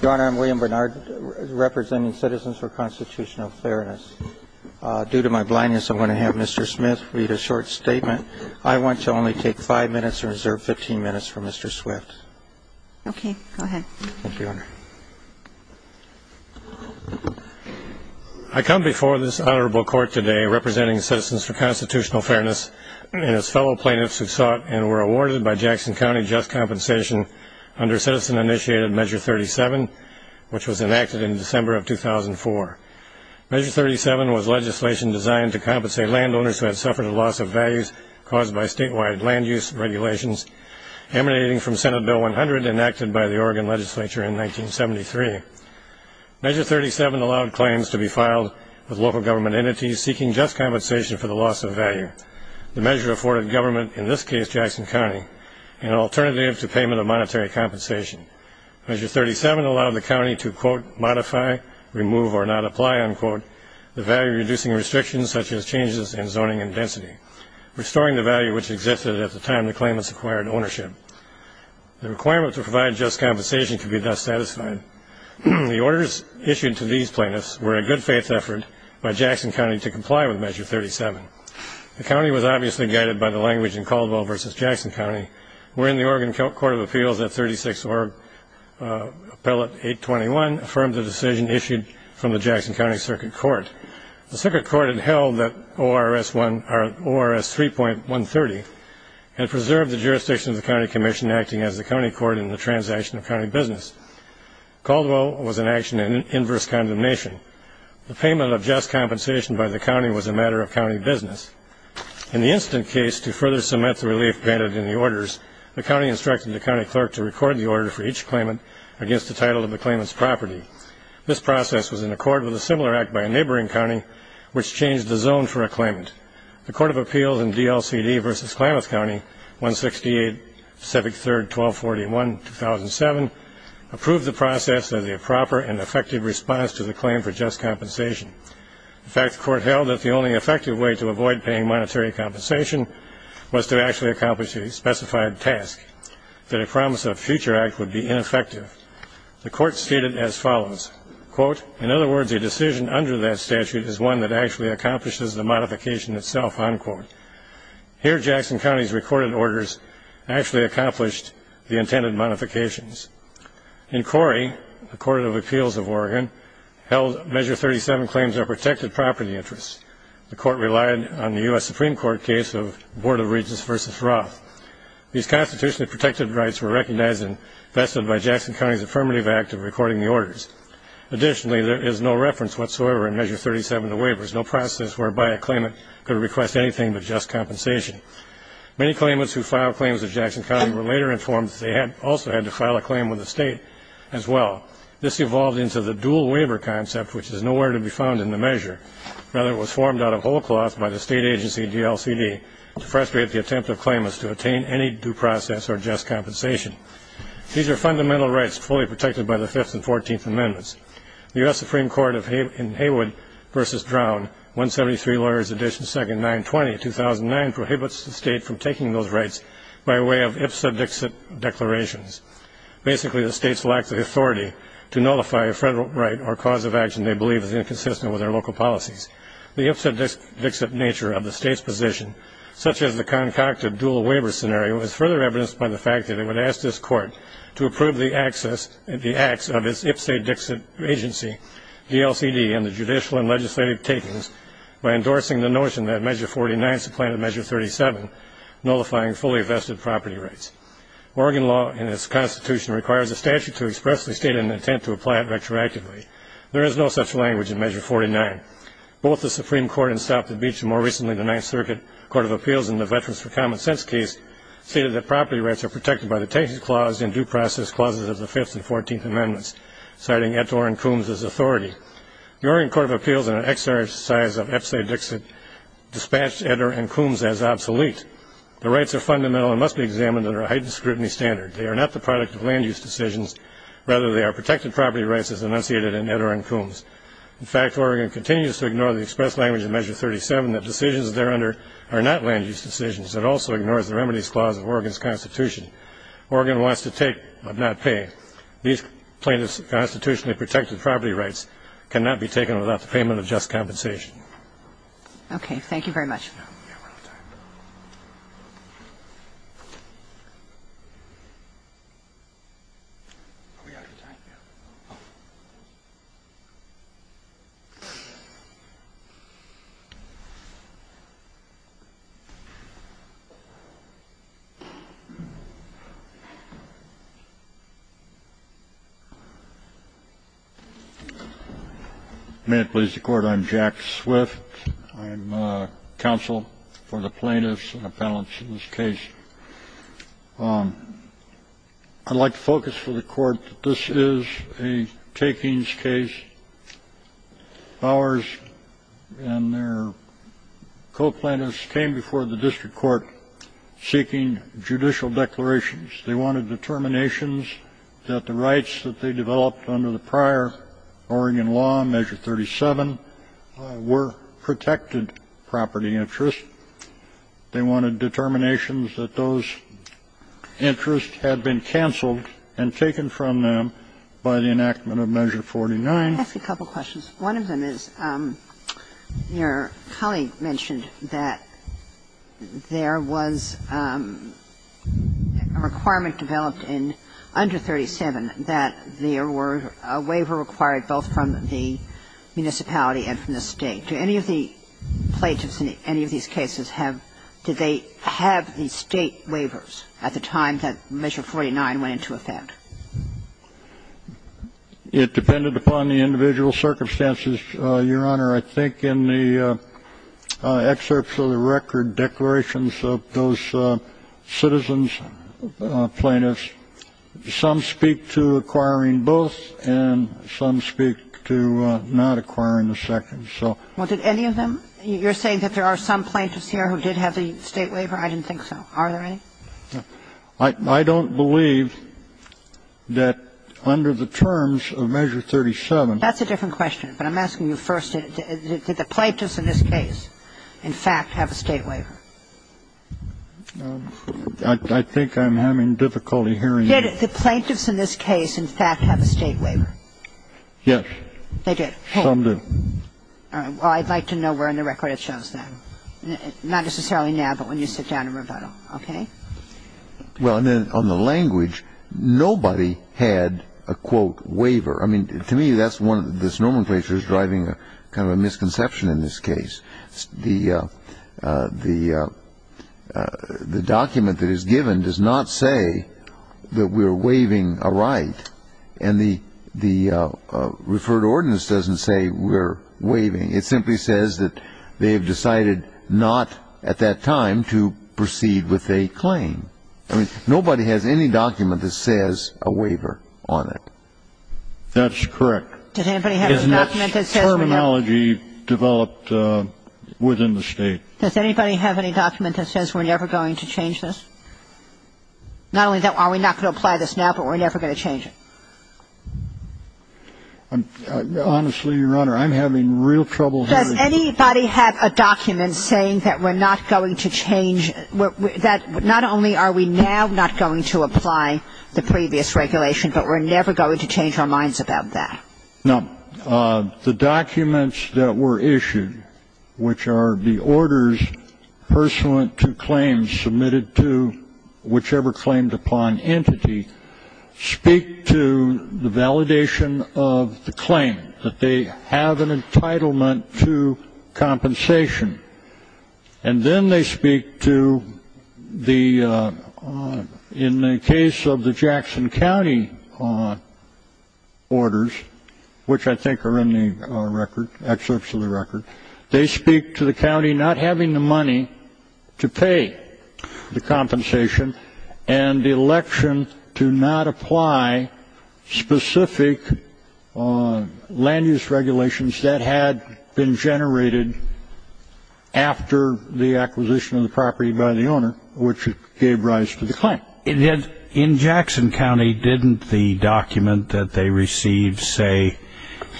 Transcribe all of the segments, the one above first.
Your Honor, I'm William Bernard, representing Citizens for Constitutional Fairness. Due to my blindness, I'm going to have Mr. Smith read a short statement. I want to only take five minutes or reserve 15 minutes for Mr. Swift. Okay, go ahead. Thank you, Your Honor. I come before this honorable court today representing Citizens for Constitutional Fairness and its fellow plaintiffs who sought and were awarded by Jackson County just compensation under Citizen-initiated Measure 37, which was enacted in December of 2004. Measure 37 was legislation designed to compensate landowners who had suffered a loss of values caused by statewide land use regulations emanating from Senate Bill 100, enacted by the Oregon legislature in 1973. Measure 37 allowed claims to be filed with local government entities seeking just compensation for the loss of value. The measure afforded government, in this case Jackson County, an alternative to payment of monetary compensation. Measure 37 allowed the county to, quote, modify, remove, or not apply, unquote, the value-reducing restrictions such as changes in zoning and density, restoring the value which existed at the time the claimants acquired ownership. The requirement to provide just compensation could be thus satisfied. The orders issued to these plaintiffs were a good-faith effort by Jackson County to comply with Measure 37. The county was obviously guided by the language in Caldwell v. Jackson County, wherein the Oregon Court of Appeals at 36 Org. Appellate 821 affirmed the decision issued from the Jackson County Circuit Court. The Circuit Court had held that ORS 3.130 had preserved the jurisdiction of the county commission acting as the county court in the transaction of county business. Caldwell was in action in inverse condemnation. The payment of just compensation by the county was a matter of county business. In the incident case, to further cement the relief granted in the orders, the county instructed the county clerk to record the order for each claimant against the title of the claimant's property. This process was in accord with a similar act by a neighboring county which changed the zone for a claimant. The Court of Appeals in DLCD v. Klamath County, 168 Pacific 3rd 1241-2007, approved the process as a proper and effective response to the claim for just compensation. In fact, the court held that the only effective way to avoid paying monetary compensation was to actually accomplish a specified task, that a promise of a future act would be ineffective. The court stated as follows, quote, In other words, a decision under that statute is one that actually accomplishes the modification itself, unquote. Here, Jackson County's recorded orders actually accomplished the intended modifications. In Corrie, the Court of Appeals of Oregon, held Measure 37 claims are protected property interests. The court relied on the U.S. Supreme Court case of Board of Regents v. Roth. These constitutionally protected rights were recognized and vested by Jackson County's affirmative act of recording the orders. Additionally, there is no reference whatsoever in Measure 37 to waivers, no process whereby a claimant could request anything but just compensation. Many claimants who filed claims at Jackson County were later informed that they also had to file a claim with the state as well. This evolved into the dual waiver concept, which is nowhere to be found in the measure. Rather, it was formed out of whole cloth by the state agency DLCD to frustrate the attempt of claimants to attain any due process or just compensation. These are fundamental rights fully protected by the Fifth and Fourteenth Amendments. The U.S. Supreme Court in Haywood v. Drown, 173 Lawyers Edition 2nd, 920, 2009, prohibits the state from taking those rights by way of ipsa dixit declarations. Basically, the state's lack of authority to nullify a federal right or cause of action they believe is inconsistent with their local policies. The ipsa dixit nature of the state's position, such as the concocted dual waiver scenario, is further evidenced by the fact that it would ask this Court to approve the acts of its ipsa dixit agency, DLCD, and the judicial and legislative takings by endorsing the notion that Measure 49 supplanted Measure 37, nullifying fully vested property rights. Oregon law in its Constitution requires a statute to expressly state an intent to apply it retroactively. There is no such language in Measure 49. Both the Supreme Court in South Beach and, more recently, the Ninth Circuit Court of Appeals in the Veterans for Common Sense case stated that property rights are protected by the Texas Clause and due process clauses of the Fifth and Fourteenth Amendments, citing Ettore and Coombs as authority. The Oregon Court of Appeals, in an exercise of ipsa dixit, dispatched Ettore and Coombs as obsolete. The rights are fundamental and must be examined under a heightened scrutiny standard. They are not the product of land-use decisions. Rather, they are protected property rights as enunciated in Ettore and Coombs. In fact, Oregon continues to ignore the expressed language in Measure 37 that decisions thereunder are not land-use decisions. It also ignores the Remedies Clause of Oregon's Constitution. Oregon wants to take but not pay. These plaintiffs' constitutionally protected property rights cannot be taken without the payment of just compensation. Thank you. Okay. Thank you very much. We're out of time. I'm Jack Swift. I'm counsel for the plaintiffs and appellants in this case. I'd like to focus for the Court that this is a takings case. Ours and their co-plaintiffs came before the district court seeking judicial declarations. They wanted determinations that the rights that they developed under the prior Oregon law, Measure 37, were protected property interests. They wanted determinations that those interests had been canceled and taken from them by the enactment of Measure 49. I have a couple of questions. One of them is, your colleague mentioned that there was a requirement developed in under 37 that there were a waiver required both from the municipality and from the State. Do any of the plaintiffs in any of these cases have, did they have the State waivers at the time that Measure 49 went into effect? It depended upon the individual circumstances, Your Honor. I think in the excerpts of the record declarations of those citizens, plaintiffs, some speak to acquiring both and some speak to not acquiring the second. So any of them? You're saying that there are some plaintiffs here who did have the State waiver? I didn't think so. Are there any? I don't believe that under the terms of Measure 37. That's a different question. But I'm asking you first, did the plaintiffs in this case, in fact, have a State waiver? I think I'm having difficulty hearing you. Did the plaintiffs in this case, in fact, have a State waiver? Yes. They did? Some did. All right. Well, I'd like to know where in the record it shows that. Not necessarily now, but when you sit down and rebuttal. Okay? Well, on the language, nobody had a, quote, waiver. I mean, to me, this nomenclature is driving kind of a misconception in this case. The document that is given does not say that we're waiving a right. And the referred ordinance doesn't say we're waiving. It simply says that they have decided not at that time to proceed with a claim. I mean, nobody has any document that says a waiver on it. That's correct. Does anybody have a document that says we're not? It's terminology developed within the State. Does anybody have any document that says we're never going to change this? Not only that, are we not going to apply this now, but we're never going to change it? Honestly, Your Honor, I'm having real trouble hearing you. Does anybody have a document saying that we're not going to change that? Not only are we now not going to apply the previous regulation, but we're never going to change our minds about that? No. The documents that were issued, which are the orders pursuant to claims submitted to whichever claimed-upon entity, speak to the validation of the claim, that they have an entitlement to compensation. And then they speak to the, in the case of the Jackson County orders, which I think are in the record, excerpts of the record, they speak to the county not having the money to pay the compensation and the election to not apply specific land-use regulations that had been generated after the acquisition of the property by the owner, which gave rise to the claim. In Jackson County, didn't the document that they received say,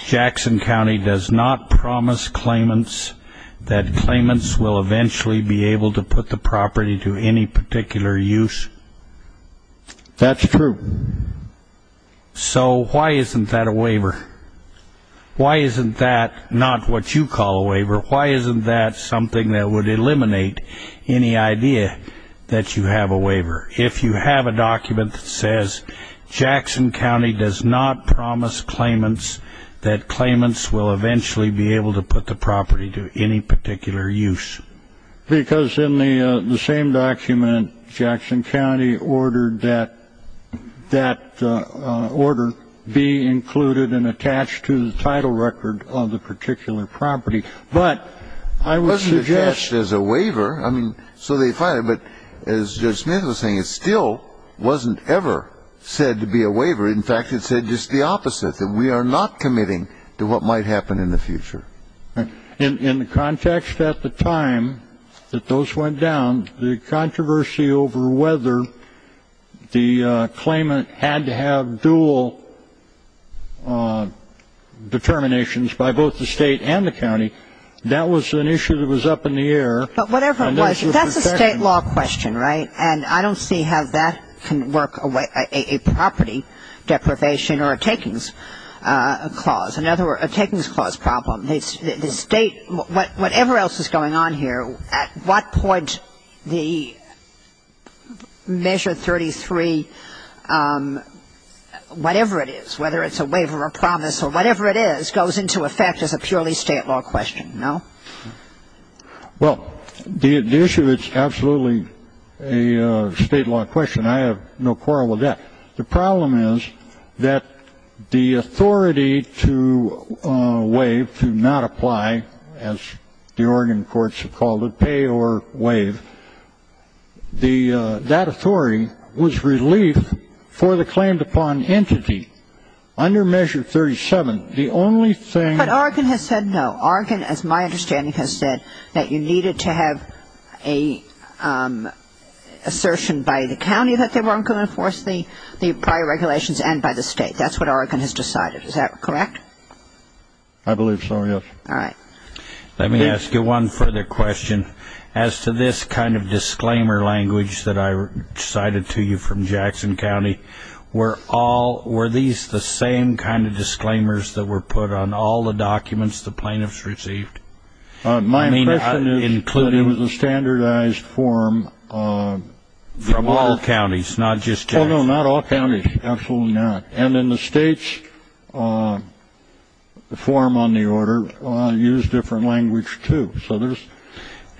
Jackson County does not promise claimants that claimants will eventually be able to put the property to any particular use? That's true. So why isn't that a waiver? Why isn't that not what you call a waiver? Why isn't that something that would eliminate any idea that you have a waiver? If you have a document that says, Jackson County does not promise claimants that claimants will eventually be able to put the property to any particular use? Because in the same document, Jackson County ordered that that order be included and attached to the title record of the particular property. But I would suggest as a waiver, I mean, so they filed it. But as Judge Smith was saying, it still wasn't ever said to be a waiver. In fact, it said just the opposite, that we are not committing to what might happen in the future. In the context at the time that those went down, the controversy over whether the claimant had to have dual determinations by both the state and the county, that was an issue that was up in the air. But whatever it was, that's a state law question, right? And I don't see how that can work away a property deprivation or a takings clause. In other words, a takings clause problem. The state, whatever else is going on here, at what point the Measure 33, whatever it is, whether it's a waiver or promise or whatever it is, goes into effect as a purely state law question, no? Well, the issue is absolutely a state law question. I have no quarrel with that. The problem is that the authority to waive, to not apply, as the Oregon courts have called it, pay or waive, that authority was relief for the claimed upon entity. Under Measure 37, the only thing ---- But Oregon has said no. Oregon, as my understanding has said, that you needed to have an assertion by the county that they weren't going to enforce the prior regulations and by the state. That's what Oregon has decided. Is that correct? I believe so, yes. All right. Let me ask you one further question. As to this kind of disclaimer language that I cited to you from Jackson County, were these the same kind of disclaimers that were put on all the documents the plaintiffs received? Well, no, not all counties. Absolutely not. And in the states, the form on the order used different language, too. So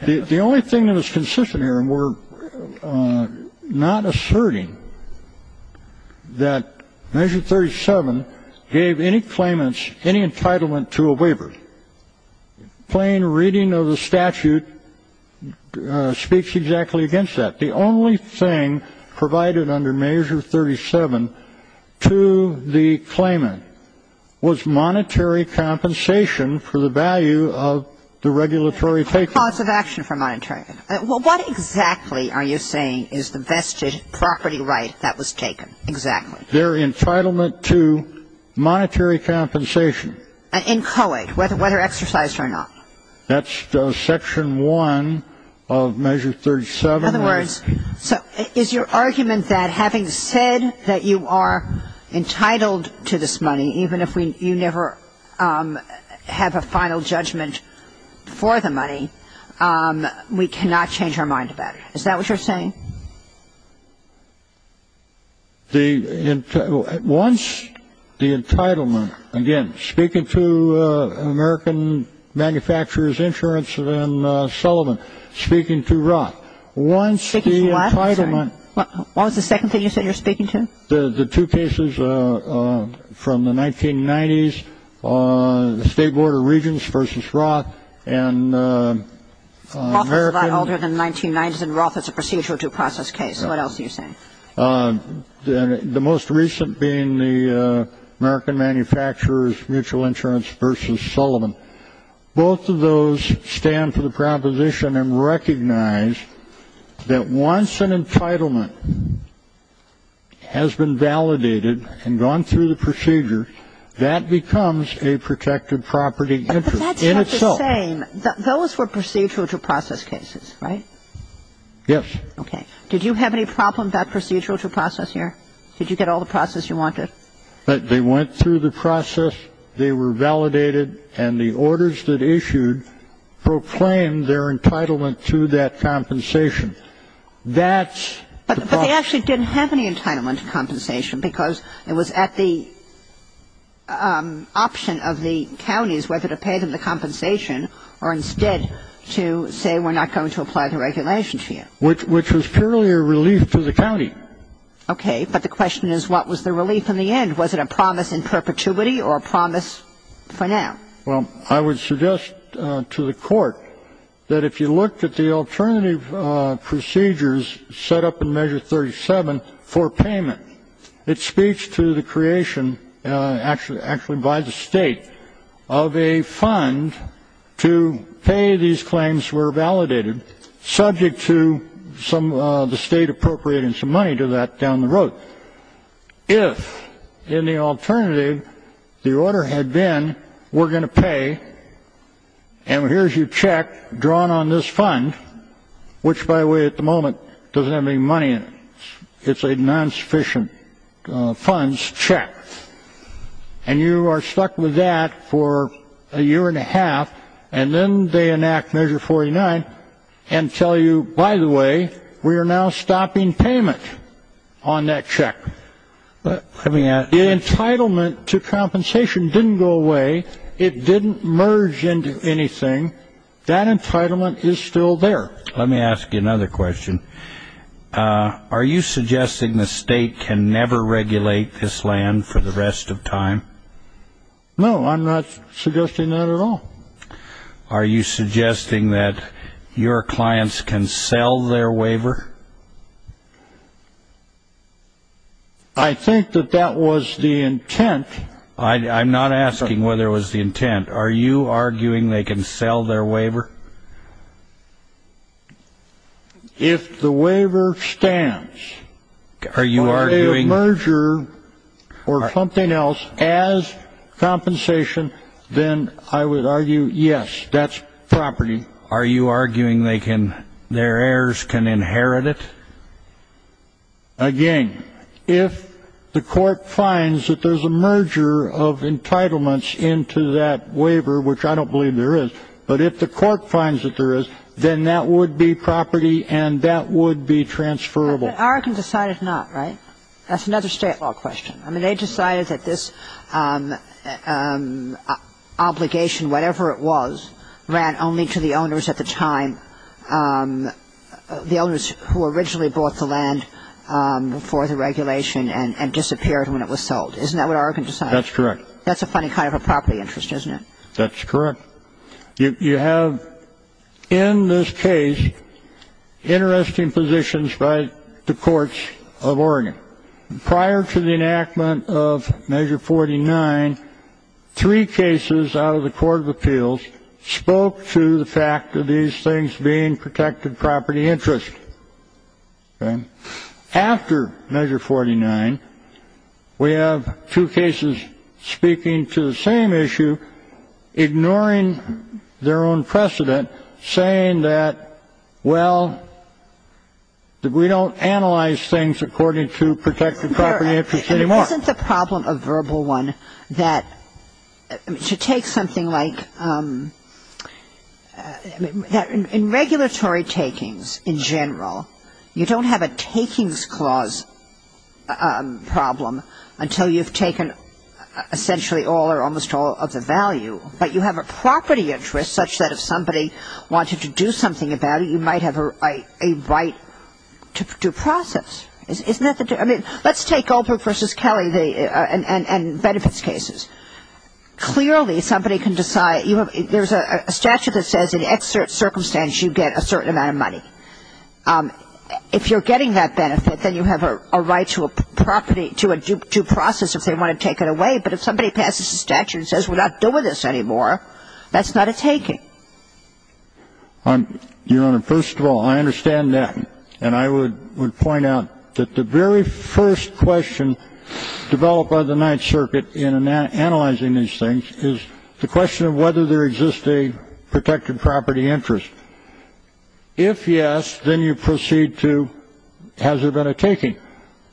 the only thing that is consistent here, and we're not asserting that Measure 37 gave any claimants any entitlement to a waiver, plain reading of the statute speaks exactly against that. The only thing provided under Measure 37 to the claimant was monetary compensation for the value of the regulatory takeover. Cause of action for monetary. Well, what exactly are you saying is the vested property right that was taken? Exactly. Their entitlement to monetary compensation. And inchoate, whether exercised or not. That's Section 1 of Measure 37. In other words, is your argument that having said that you are entitled to this money, even if you never have a final judgment for the money, we cannot change our mind about it? Is that what you're saying? Once the entitlement, again, speaking to American Manufacturers Insurance and Sullivan, speaking to Roth, once the entitlement. What was the second thing you said you were speaking to? The two cases from the 1990s, the State Board of Regents versus Roth. Roth is a lot older than the 1990s, and Roth is a procedural due process case. What else are you saying? The most recent being the American Manufacturers Mutual Insurance versus Sullivan. Both of those stand for the proposition and recognize that once an entitlement has been validated and gone through the procedure, that becomes a protected property interest in itself. So you're saying those were procedural due process cases, right? Yes. Okay. Did you have any problem about procedural due process here? Did you get all the process you wanted? They went through the process, they were validated, and the orders that issued proclaimed their entitlement to that compensation. That's the problem. But they actually didn't have any entitlement to compensation because it was at the option of the counties whether to pay them the compensation or instead to say we're not going to apply the regulation to you. Which was purely a relief to the county. Okay. But the question is what was the relief in the end? Was it a promise in perpetuity or a promise for now? Well, I would suggest to the Court that if you looked at the alternative procedures set up in Measure 37 for payment, it speaks to the creation actually by the State of a fund to pay these claims were validated subject to the State appropriating some money to that down the road. If in the alternative the order had been we're going to pay, and here's your check drawn on this fund, which by the way at the moment doesn't have any money in it. It's a non-sufficient funds check. And you are stuck with that for a year and a half, and then they enact Measure 49 and tell you, by the way, we are now stopping payment on that check. The entitlement to compensation didn't go away. It didn't merge into anything. That entitlement is still there. Let me ask you another question. Are you suggesting the State can never regulate this land for the rest of time? No, I'm not suggesting that at all. Are you suggesting that your clients can sell their waiver? I think that that was the intent. I'm not asking whether it was the intent. Are you arguing they can sell their waiver? If the waiver stands for a merger or something else as compensation, then I would argue, yes, that's property. Are you arguing their heirs can inherit it? Again, if the court finds that there's a merger of entitlements into that waiver, which I don't believe there is, but if the court finds that there is, then that would be property and that would be transferable. But Oregon decided not, right? That's another State law question. I mean, they decided that this obligation, whatever it was, ran only to the owners at the time, the owners who originally bought the land for the regulation and disappeared when it was sold. Isn't that what Oregon decided? That's correct. That's a funny kind of a property interest, isn't it? That's correct. You have, in this case, interesting positions by the courts of Oregon. Prior to the enactment of Measure 49, three cases out of the court of appeals spoke to the fact that these things being protected property interest. Okay? After Measure 49, we have two cases speaking to the same issue, ignoring their own precedent, saying that, well, we don't analyze things according to protected property interest anymore. Isn't the problem of Verbal One that, to take something like, in regulatory takings in general, you don't have a takings clause problem until you've taken essentially all or almost all of the value. But you have a property interest such that if somebody wanted to do something about it, you might have a right to process. Isn't that the difference? I mean, let's take Oldbrook v. Kelly and benefits cases. Clearly, somebody can decide. There's a statute that says in X circumstance you get a certain amount of money. If you're getting that benefit, then you have a right to a property, to a due process if they want to take it away. But if somebody passes a statute and says we're not doing this anymore, that's not a taking. Your Honor, first of all, I understand that. And I would point out that the very first question developed by the Ninth Circuit in analyzing these things is the question of whether there exists a protected property interest. If yes, then you proceed to has there been a taking.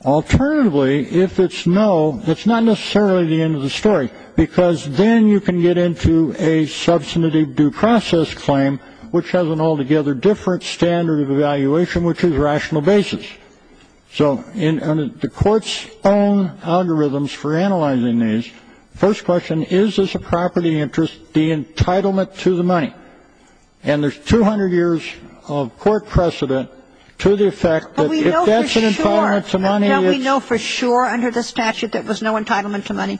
Alternatively, if it's no, it's not necessarily the end of the story, because then you can get into a substantive due process claim, which has an altogether different standard of evaluation, which is rational basis. So the court's own algorithms for analyzing these. First question, is this a property interest, the entitlement to the money? And there's 200 years of court precedent to the effect that if that's an entitlement to money, it's. I don't know for sure under the statute there was no entitlement to money.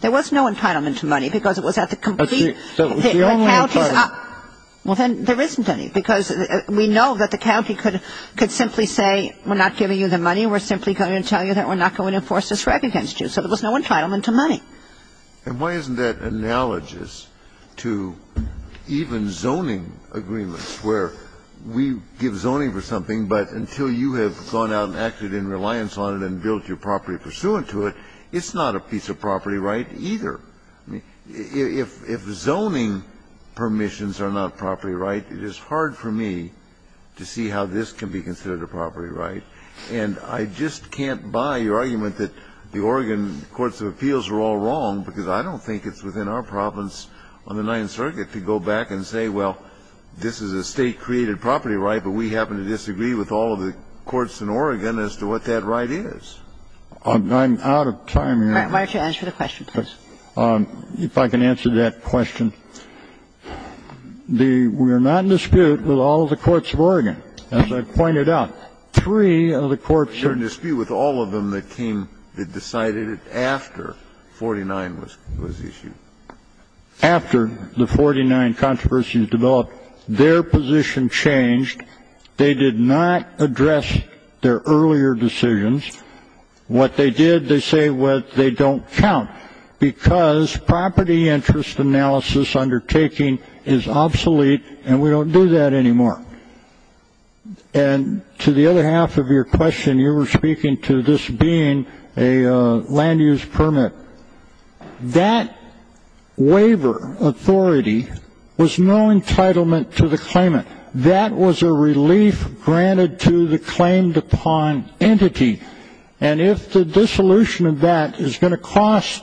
There was no entitlement to money, because it was at the complete. That's the only entitlement. Well, then there isn't any, because we know that the county could simply say we're not giving you the money. We're simply going to tell you that we're not going to enforce this right against you. So there was no entitlement to money. And why isn't that analogous to even zoning agreements, where we give zoning for something, but until you have gone out and acted in reliance on it and built your property pursuant to it, it's not a piece of property right either. I mean, if zoning permissions are not property right, it is hard for me to see how this can be considered a property right. And I just can't buy your argument that the Oregon courts of appeals are all wrong, because I don't think it's within our province on the Ninth Circuit to go back and say, well, this is a State-created property right, but we happen to disagree with all of the courts in Oregon as to what that right is. I'm out of time here. Why don't you answer the question, please? If I can answer that question. The we're not in dispute with all of the courts of Oregon. As I pointed out, three of the courts are in dispute with all of them that came, that decided it after 49 was issued. After the 49 controversies developed, their position changed. They did not address their earlier decisions. What they did, they say they don't count, because property interest analysis undertaking is obsolete, and we don't do that anymore. And to the other half of your question, you were speaking to this being a land-use permit. That waiver authority was no entitlement to the claimant. That was a relief granted to the claimed-upon entity. And if the dissolution of that is going to cost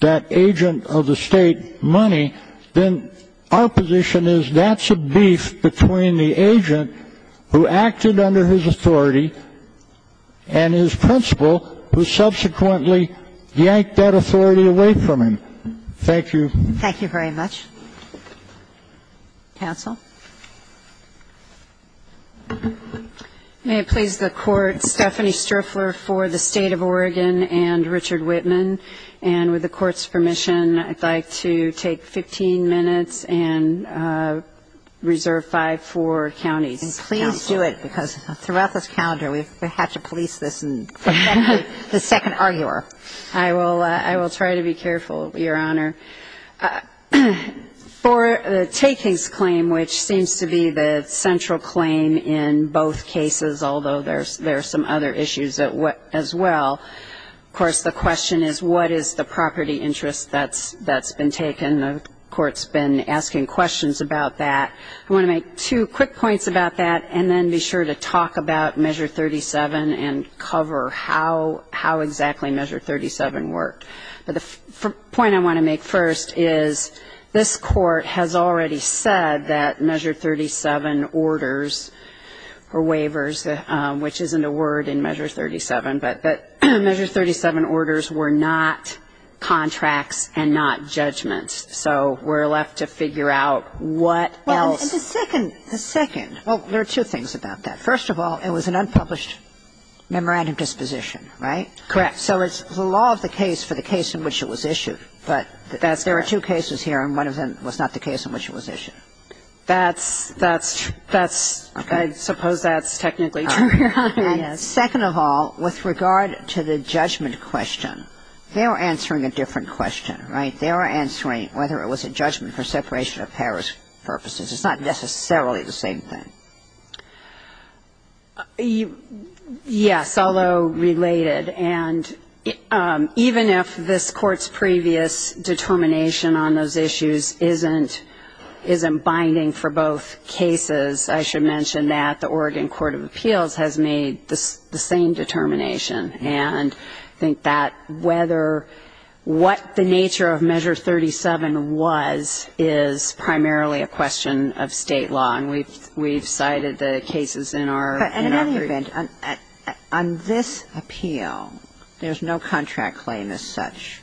that agent of the State money, then our position is that's a beef between the agent who acted under his authority and his principal, who subsequently yanked that authority away from him. Thank you. Thank you very much. Counsel? May it please the Court, Stephanie Striffler for the State of Oregon and Richard Whitman. And with the Court's permission, I'd like to take 15 minutes and reserve five for counties. And please do it, because throughout this calendar, we've had to police this and protect the second arguer. I will try to be careful, Your Honor. For the takings claim, which seems to be the central claim in both cases, although there are some other issues as well, of course, the question is what is the property interest that's been taken. The Court's been asking questions about that. I want to make two quick points about that and then be sure to talk about Measure 37 and cover how exactly Measure 37 worked. But the point I want to make first is this Court has already said that Measure 37 orders or waivers, which isn't a word in Measure 37, but Measure 37 orders were not contracts and not judgments. So we're left to figure out what else. And the second, the second, well, there are two things about that. First of all, it was an unpublished memorandum disposition, right? Correct. So it's the law of the case for the case in which it was issued. But there are two cases here, and one of them was not the case in which it was issued. That's, that's, that's, I suppose that's technically true, Your Honor, yes. And second of all, with regard to the judgment question, they were answering a different question, right? They were answering whether it was a judgment for separation of powers purposes. It's not necessarily the same thing. Yes, although related. And even if this Court's previous determination on those issues isn't, isn't binding for both cases, I should mention that the Oregon Court of Appeals has made the same determination. And I think that whether what the nature of Measure 37 was is primarily a question of State law, and we've, we've cited the cases in our, in our brief. But in any event, on this appeal, there's no contract claim as such.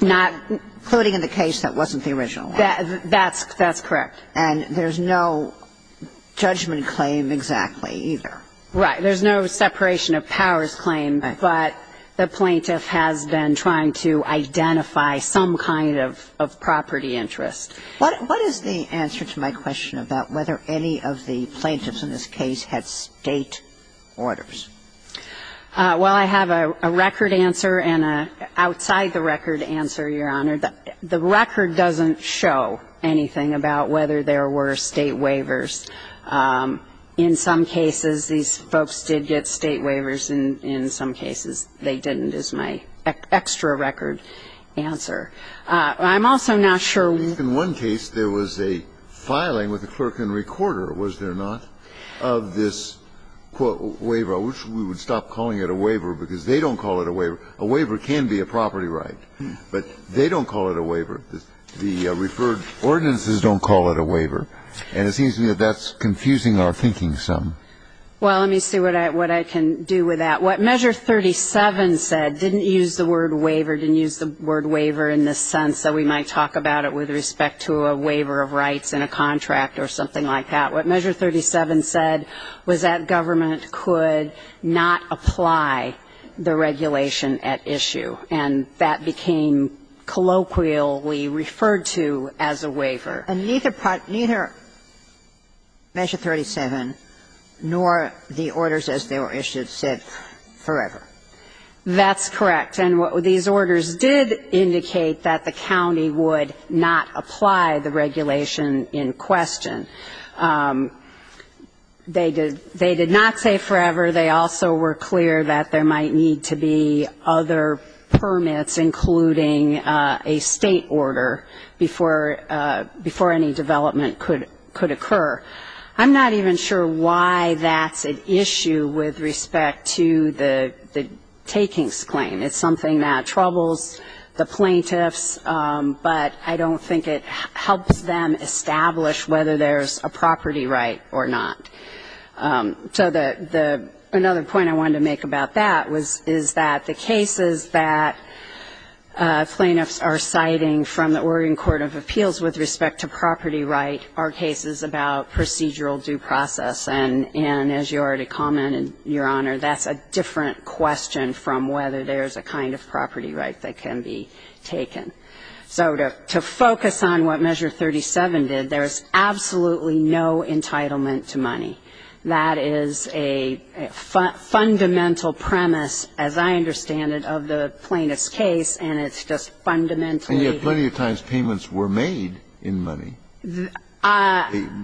Not. Including in the case that wasn't the original one. That's, that's correct. And there's no judgment claim exactly either. Right. There's no separation of powers claim, but the plaintiff has been trying to identify some kind of, of property interest. What, what is the answer to my question about whether any of the plaintiffs in this case had State orders? Well, I have a, a record answer and an outside the record answer, Your Honor. The record doesn't show anything about whether there were State waivers. In some cases, these folks did get State waivers. In, in some cases, they didn't is my extra record answer. I'm also not sure. I think in one case, there was a filing with the clerk and recorder, was there not, of this, quote, waiver, which we would stop calling it a waiver because they don't call it a waiver. A waiver can be a property right, but they don't call it a waiver. The, the referred ordinances don't call it a waiver. And it seems to me that that's confusing our thinking some. Well, let me see what I, what I can do with that. What Measure 37 said didn't use the word waiver, didn't use the word waiver in the sense that we might talk about it with respect to a waiver of rights in a contract or something like that. What Measure 37 said was that government could not apply the regulation at issue, and that became colloquially referred to as a waiver. And neither part, neither Measure 37 nor the orders as they were issued said forever. That's correct. And what these orders did indicate that the county would not apply the regulation in question. They did, they did not say forever. They also were clear that there might need to be other permits, including a State Order, before any development could occur. I'm not even sure why that's an issue with respect to the takings claim. It's something that troubles the plaintiffs, but I don't think it helps them establish whether there's a property right or not. So the, another point I wanted to make about that is that the cases that plaintiffs are citing from the Oregon Court of Appeals with respect to property right are cases about procedural due process. And as you already commented, Your Honor, that's a different question from whether there's a kind of property right that can be taken. So to focus on what Measure 37 did, there's absolutely no entitlement to money. That is a fundamental premise, as I understand it, of the plaintiff's case, and it's just fundamentally. And yet plenty of times payments were made in money.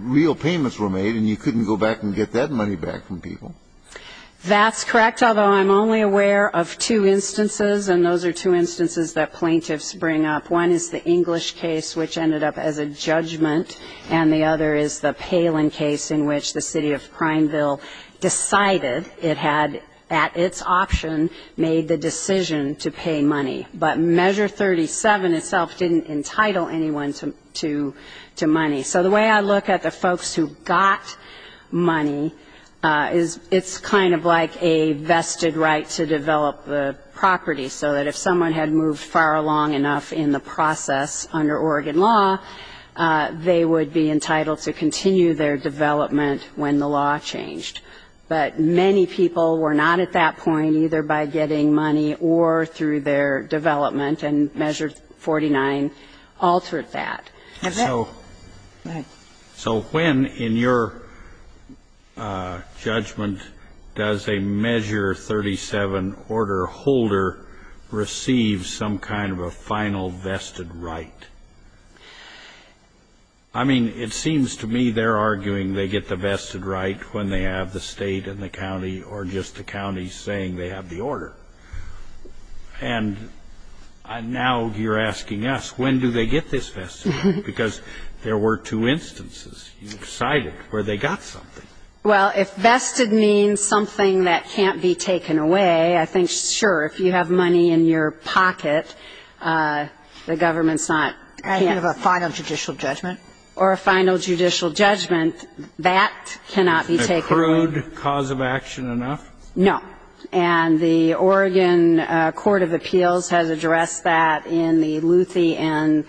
Real payments were made, and you couldn't go back and get that money back from people. That's correct, although I'm only aware of two instances, and those are two instances that plaintiffs bring up. One is the English case, which ended up as a judgment, and the other is the Palin case in which the city of Prineville decided it had, at its option, made the decision to pay money. But Measure 37 itself didn't entitle anyone to money. So the way I look at the folks who got money is it's kind of like a vested right to develop the property, so that if someone had moved far along enough in the process under Oregon law, they would be entitled to continue their development when the law changed. But many people were not at that point, either by getting money or through their development, and Measure 49 altered that. So when, in your judgment, does a Measure 37 order holder receive some kind of a final vested right? I mean, it seems to me they're arguing they get the vested right when they have the state and the county or just the county saying they have the order. And now you're asking us, when do they get this vested right? Because there were two instances. You decided where they got something. Well, if vested means something that can't be taken away, I think, sure, if you have money in your pocket, the government's not can't. I think of a final judicial judgment. Or a final judicial judgment. That cannot be taken away. Is a crude cause of action enough? No. And the Oregon court of appeals has addressed that in the Luthi and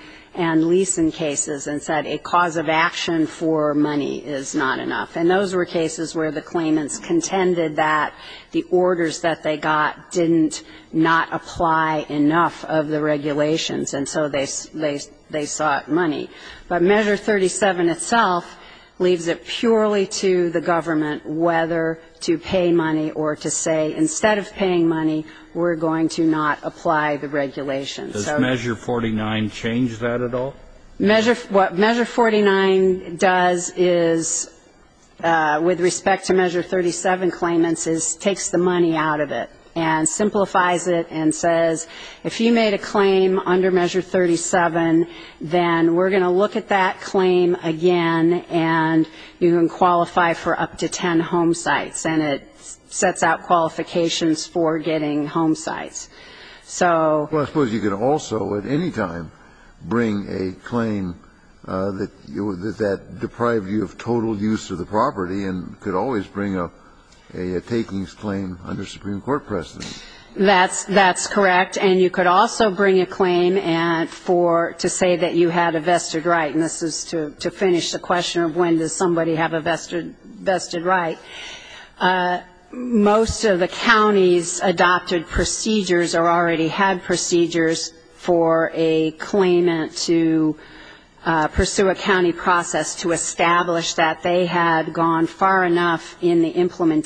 Leeson cases and said a cause of action for money is not enough. And those were cases where the claimants contended that the orders that they got didn't not apply enough of the regulations, and so they sought money. But Measure 37 itself leaves it purely to the government whether to pay money or to say, instead of paying money, we're going to not apply the regulations. Does Measure 49 change that at all? What Measure 49 does is, with respect to Measure 37 claimants, is takes the money out of it and simplifies it and says, if you made a claim under Measure 37, then we're going to look at that claim again, and you can qualify for up to ten home sites, and it sets out qualifications for getting home sites. So you can also at any time bring a claim that deprived you of total use of the property and could always bring up a takings claim under Supreme Court precedent. That's correct. And you could also bring a claim for to say that you had a vested right. And this is to finish the question of when does somebody have a vested right. Most of the counties adopted procedures or already had procedures for a claimant to pursue a county process to establish that they had gone far enough in the past that they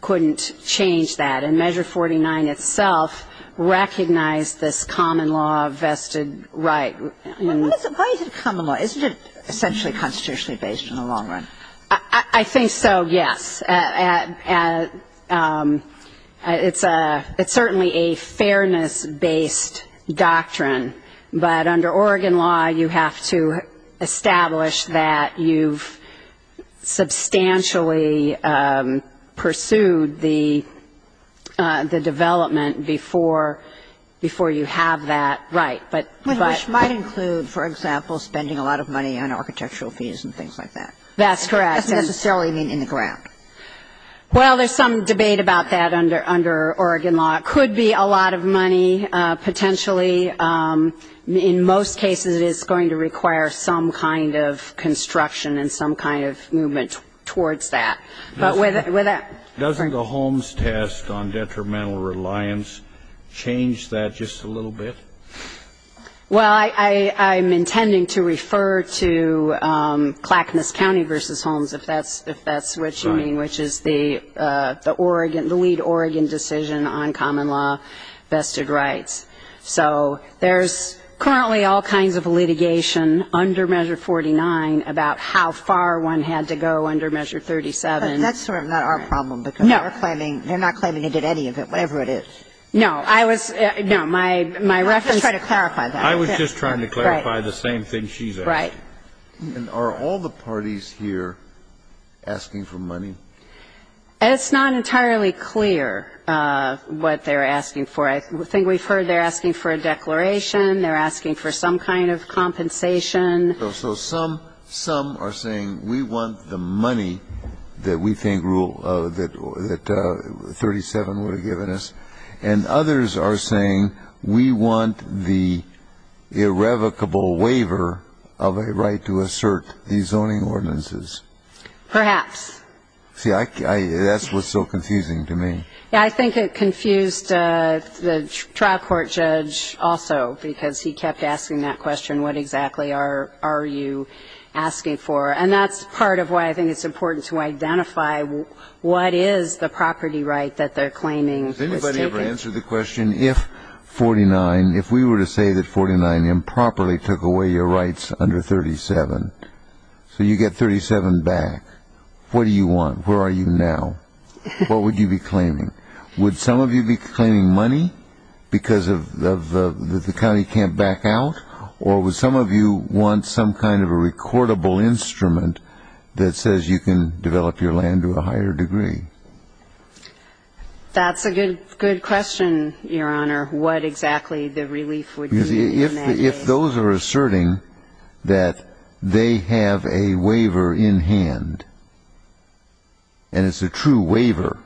couldn't change that. And Measure 49 itself recognized this common law vested right. What is the value of common law? Isn't it essentially constitutionally based in the long run? I think so, yes. It's certainly a fairness-based doctrine. But under Oregon law, you have to establish that you've substantially pursued the development before you have that right. Which might include, for example, spending a lot of money on architectural fees and things like that. That's correct. That's necessarily in the ground. Well, there's some debate about that under Oregon law. It could be a lot of money, potentially. In most cases, it is going to require some kind of construction and some kind of movement towards that. But with that ---- Doesn't the Holmes test on detrimental reliance change that just a little bit? Well, I'm intending to refer to Clackamas County versus Holmes, if that's what you mean, which is the lead Oregon decision on common law vested rights. So there's currently all kinds of litigation under Measure 49 about how far one had to go under Measure 37. But that's sort of not our problem. No. Because they're not claiming they did any of it, whatever it is. I was ---- No, my reference ---- I'm just trying to clarify that. I was just trying to clarify the same thing she's asking. Right. And are all the parties here asking for money? It's not entirely clear what they're asking for. I think we've heard they're asking for a declaration. They're asking for some kind of compensation. So some are saying we want the money that we think rule ---- that 37 would have given us. And others are saying we want the irrevocable waiver of a right to assert these zoning ordinances. Perhaps. See, I ---- that's what's so confusing to me. Yeah, I think it confused the trial court judge also, because he kept asking that question, what exactly are you asking for? And that's part of why I think it's important to identify what is the property right that they're claiming. Has anybody ever answered the question, if 49, if we were to say that 49 improperly took away your rights under 37, so you get 37 back, what do you want? Where are you now? What would you be claiming? Would some of you be claiming money because of the county can't back out? Or would some of you want some kind of a recordable instrument that says you can develop your land to a higher degree? That's a good question, Your Honor. What exactly the relief would be in that case? If those are asserting that they have a waiver in hand, and it's a true waiver,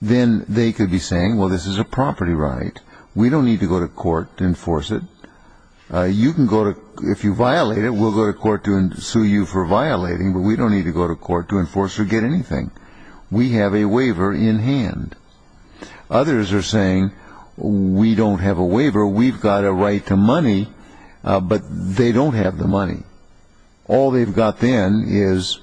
then they could be saying, well, this is a property right. We don't need to go to court to enforce it. You can go to ---- if you violate it, we'll go to court to sue you for violating, but we don't need to go to court to enforce or get anything. We have a waiver in hand. Others are saying, we don't have a waiver. We've got a right to money. But they don't have the money. All they've got then is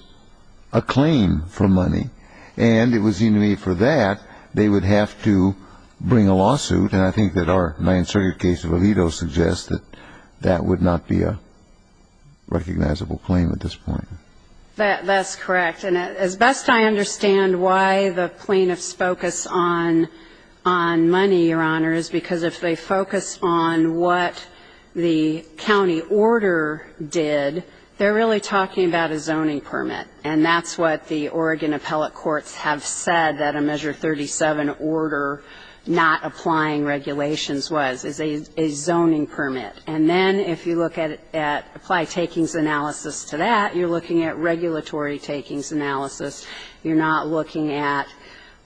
a claim for money. And it would seem to me for that, they would have to bring a lawsuit, and I think that our Ninth Circuit case of Alito suggests that that would not be a recognizable claim at this point. That's correct. And as best I understand why the plaintiffs focus on money, Your Honor, is because if they focus on what the county order did, they're really talking about a zoning permit. And that's what the Oregon appellate courts have said that a Measure 37 order not applying regulations was, is a zoning permit. And then if you look at apply takings analysis to that, you're looking at regulatory takings analysis. You're not looking at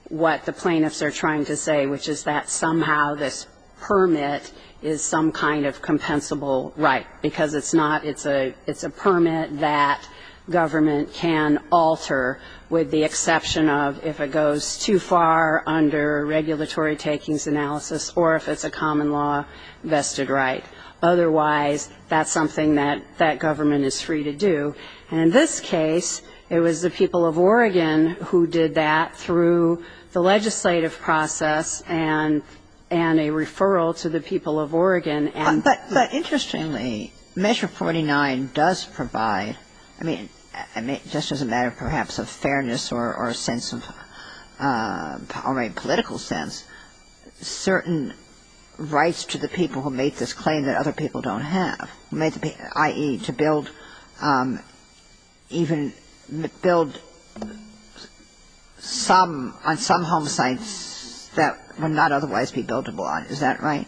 what the plaintiffs are trying to say, which is that somehow this permit is some kind of compensable right, because it's not ---- it's a permit that government can alter, with the exception of if it goes too far under regulatory takings analysis or if it's a common law vested right. Otherwise, that's something that government is free to do. And in this case, it was the people of Oregon who did that through the legislative process and a referral to the people of Oregon. But interestingly, Measure 49 does provide, I mean, just as a matter perhaps of fairness or a sense of ---- or a political sense, certain rights to the people who make this claim that other people don't have, i.e., to build even ---- build some, on some home sites that would not otherwise be buildable on. Is that right?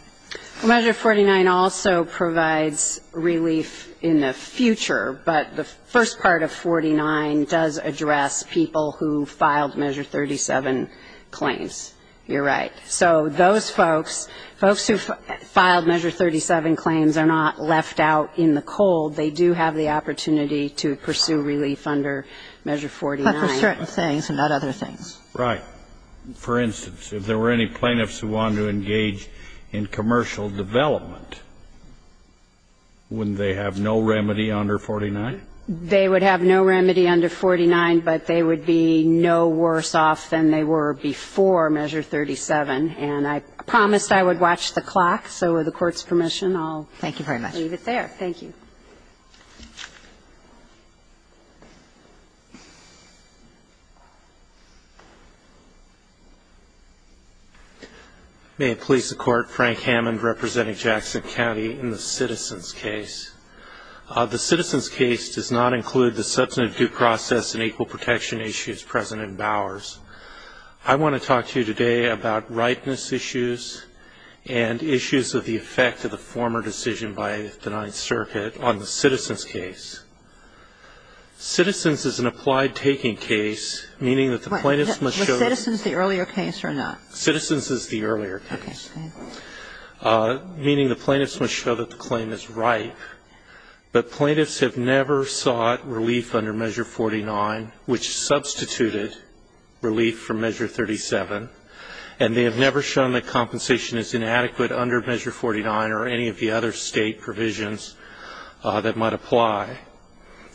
Measure 49 also provides relief in the future. But the first part of 49 does address people who filed Measure 37 claims. You're right. So those folks, folks who filed Measure 37 claims are not left out in the cold. They do have the opportunity to pursue relief under Measure 49. But for certain things and not other things. Right. For instance, if there were any plaintiffs who wanted to engage in commercial development, wouldn't they have no remedy under 49? They would have no remedy under 49, but they would be no worse off than they were before Measure 37. And I promised I would watch the clock, so with the Court's permission, I'll leave it there. Thank you very much. Thank you. Thank you. May it please the Court, Frank Hammond representing Jackson County in the Citizens' Case. The Citizens' Case does not include the substantive due process and equal protection issues present in Bowers. I want to talk to you today about rightness issues and issues of the effect of the former decision by the Ninth Circuit on the Citizens' Case. Citizens is an applied taking case, meaning that the plaintiffs must show that the claim is ripe. Was Citizens the earlier case or not? Citizens is the earlier case. Okay. Meaning the plaintiffs must show that the claim is ripe. But plaintiffs have never sought relief under Measure 49, which substituted relief from Measure 37. And they have never shown that compensation is inadequate under Measure 49 or any of the other State provisions that might apply.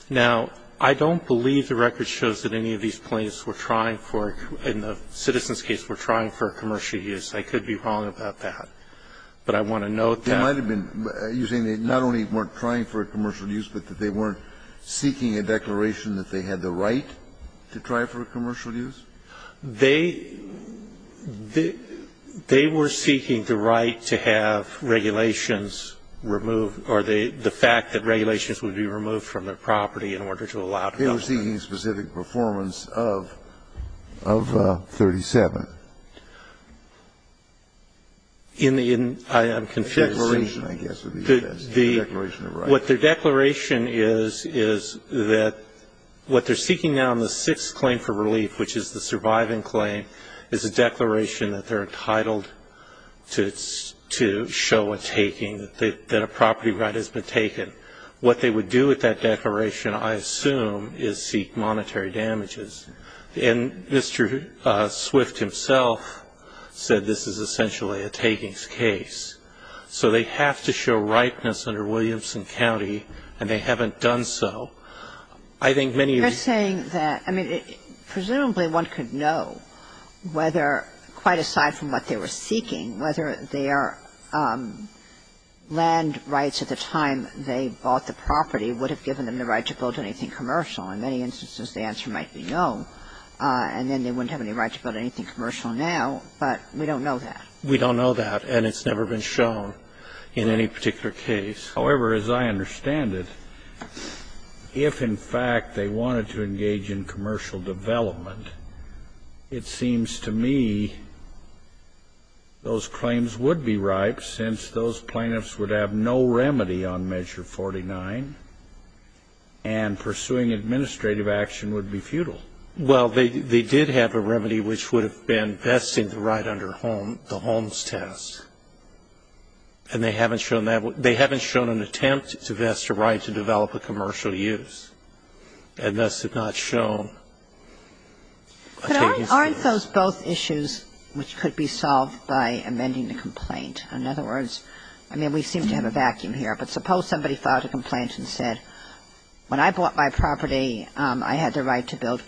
Now, I don't believe the record shows that any of these plaintiffs were trying for, in the Citizens' Case, were trying for a commercial use. I could be wrong about that. But I want to note that. It might have been, you're saying they not only weren't trying for a commercial use, but that they weren't seeking a declaration that they had the right to try for a commercial use? They were seeking the right to have regulations removed, or the fact that regulations would be removed from their property in order to allow development. They were seeking a specific performance of 37. In the end, I am confused. Declaration, I guess, would be the best. Declaration of rights. What their declaration is, is that what they're seeking now in the sixth claim for the surviving claim is a declaration that they're entitled to show a taking, that a property right has been taken. What they would do with that declaration, I assume, is seek monetary damages. And Mr. Swift himself said this is essentially a takings case. So they have to show ripeness under Williamson County, and they haven't done so. I think many of these ---- Kagan is saying that, I mean, presumably one could know whether, quite aside from what they were seeking, whether their land rights at the time they bought the property would have given them the right to build anything commercial. In many instances, the answer might be no, and then they wouldn't have any right to build anything commercial now, but we don't know that. We don't know that, and it's never been shown in any particular case. However, as I understand it, if, in fact, they wanted to engage in commercial development, it seems to me those claims would be ripe, since those plaintiffs would have no remedy on Measure 49, and pursuing administrative action would be futile. Well, they did have a remedy which would have been vesting the right under the Holmes test, and they haven't shown that. They haven't shown an attempt to vest a right to develop a commercial use, and thus have not shown a takings case. But aren't those both issues which could be solved by amending the complaint? In other words, I mean, we seem to have a vacuum here, but suppose somebody filed a complaint and said, when I bought my property, I had the right to build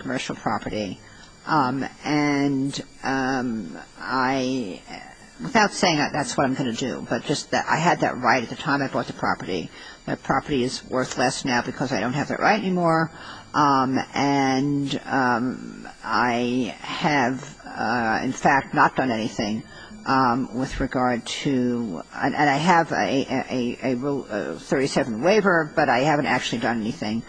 without saying that that's what I'm going to do, but just that I had that right at the time I bought the property. My property is worth less now because I don't have that right anymore, and I have, in fact, not done anything with regard to – and I have a Rule 37 waiver, but I haven't actually done anything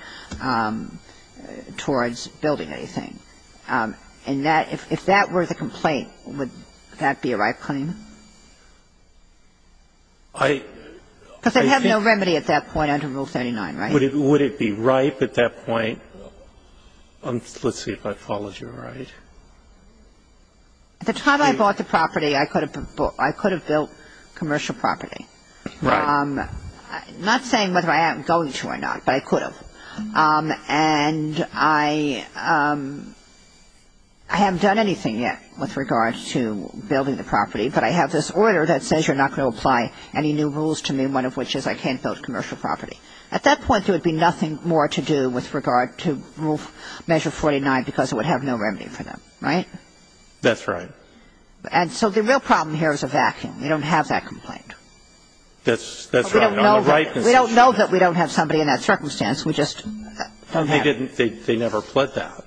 towards building anything. And that – if that were the complaint, would that be a right claim? Because they have no remedy at that point under Rule 39, right? Would it be right at that point? Let's see if I followed you right. At the time I bought the property, I could have built commercial property. Right. I'm not saying whether I am going to or not, but I could have. And I – I haven't done anything yet with regard to building the property, but I have this order that says you're not going to apply any new rules to me, one of which is I can't build commercial property. At that point, there would be nothing more to do with regard to Rule – Measure 49 because it would have no remedy for them, right? That's right. And so the real problem here is a vacuum. We don't have that complaint. That's right. We don't know that we don't have somebody in that circumstance. We just don't have it. They never pled that.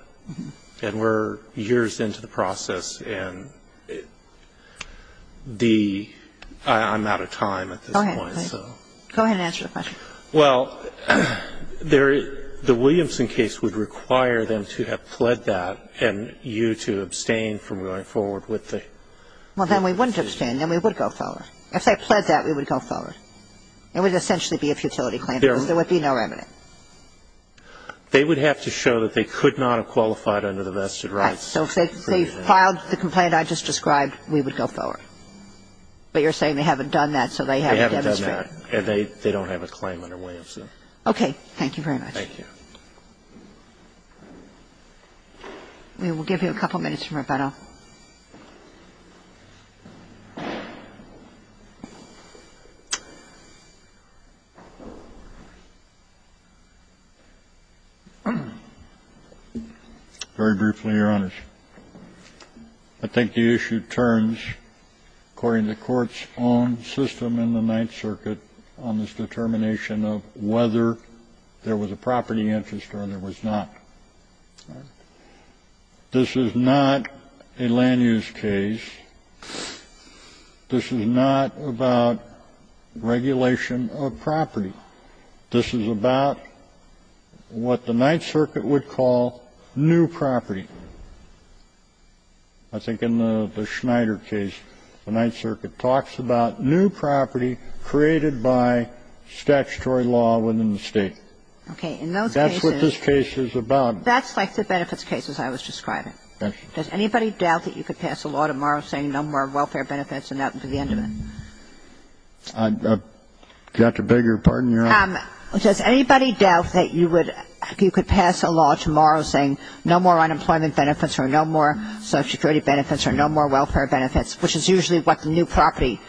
And we're years into the process, and the – I'm out of time at this point. Go ahead. Go ahead and answer the question. Well, the Williamson case would require them to have pled that and you to abstain from going forward with the – Well, then we wouldn't abstain. Then we would go forward. If they pled that, we would go forward. It would essentially be a futility claim because there would be no remnant. They would have to show that they could not have qualified under the vested rights. Right. So if they filed the complaint I just described, we would go forward. But you're saying they haven't done that, so they haven't demonstrated. They haven't done that, and they don't have a claim under Williamson. Okay. Thank you very much. Thank you. We will give you a couple minutes for rebuttal. Very briefly, Your Honors. I think the issue turns, according to the Court's own system in the Ninth Circuit on this determination of whether there was a property interest or there was not. This is not a land-use case. This is not about regulation of property. This is about what the Ninth Circuit would call new property. I think in the Schneider case, the Ninth Circuit talks about new property created by statutory law within the State. Okay. In those cases. That's what this case is about. That's like the benefits cases I was describing. Does anybody doubt that you could pass a law tomorrow saying no more welfare benefits and that would be the end of it? I've got to beg your pardon, Your Honor. Does anybody doubt that you could pass a law tomorrow saying no more unemployment benefits or no more Social Security benefits or no more welfare benefits, which is usually what the new property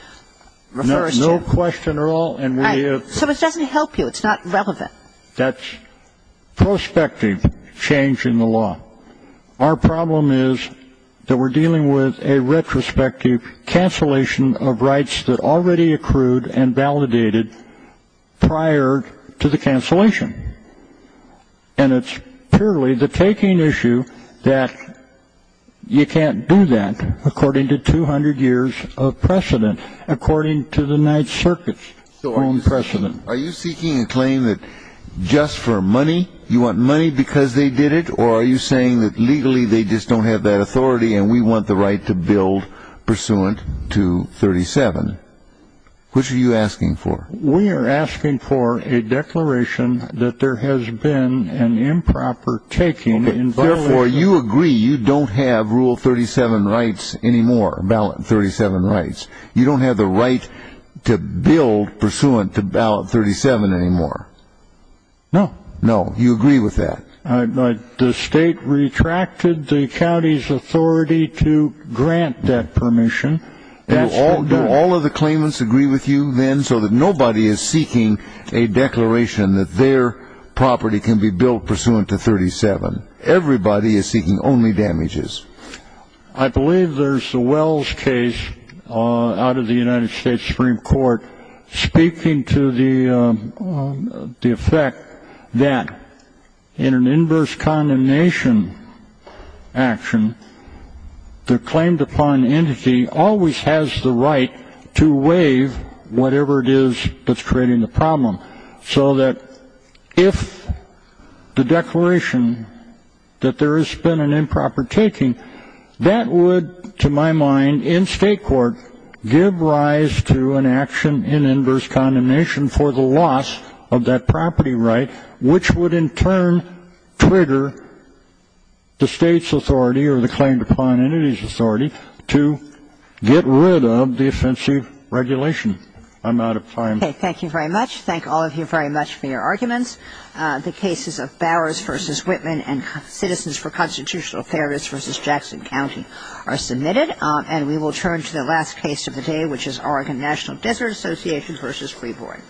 refers to? No question at all. Right. So it doesn't help you. It's not relevant. That's prospective change in the law. Our problem is that we're dealing with a retrospective cancellation of rights that already accrued and validated prior to the cancellation. And it's purely the taking issue that you can't do that according to 200 years of precedent, according to the Ninth Circuit's own precedent. So are you seeking a claim that just for money you want money because they did it, or are you saying that legally they just don't have that authority and we want the right to build pursuant to 37? Which are you asking for? We are asking for a declaration that there has been an improper taking. Therefore, you agree you don't have rule 37 rights anymore, ballot 37 rights. You don't have the right to build pursuant to ballot 37 anymore. No. No. You agree with that. The state retracted the county's authority to grant that permission. Do all of the claimants agree with you, then, so that nobody is seeking a declaration that their property can be built pursuant to 37? Everybody is seeking only damages. I believe there's a Wells case out of the United States Supreme Court speaking to the effect that in an inverse condemnation action, the claimed-upon entity always has the right to waive whatever it is that's creating the problem, so that if the declaration that there has been an improper taking, that would, to my mind, in state court, give rise to an action in inverse condemnation for the loss of that property right, which would in turn trigger the state's authority or the claimed-upon entity's authority to get rid of the offensive regulation. I'm out of time. Okay. Thank you very much. Thank all of you very much for your arguments. The cases of Bowers v. Whitman and Citizens for Constitutional Fairness v. Jackson County are submitted, and we will turn to the last case of the day, which is Oregon National Desert Association v. Freeborn.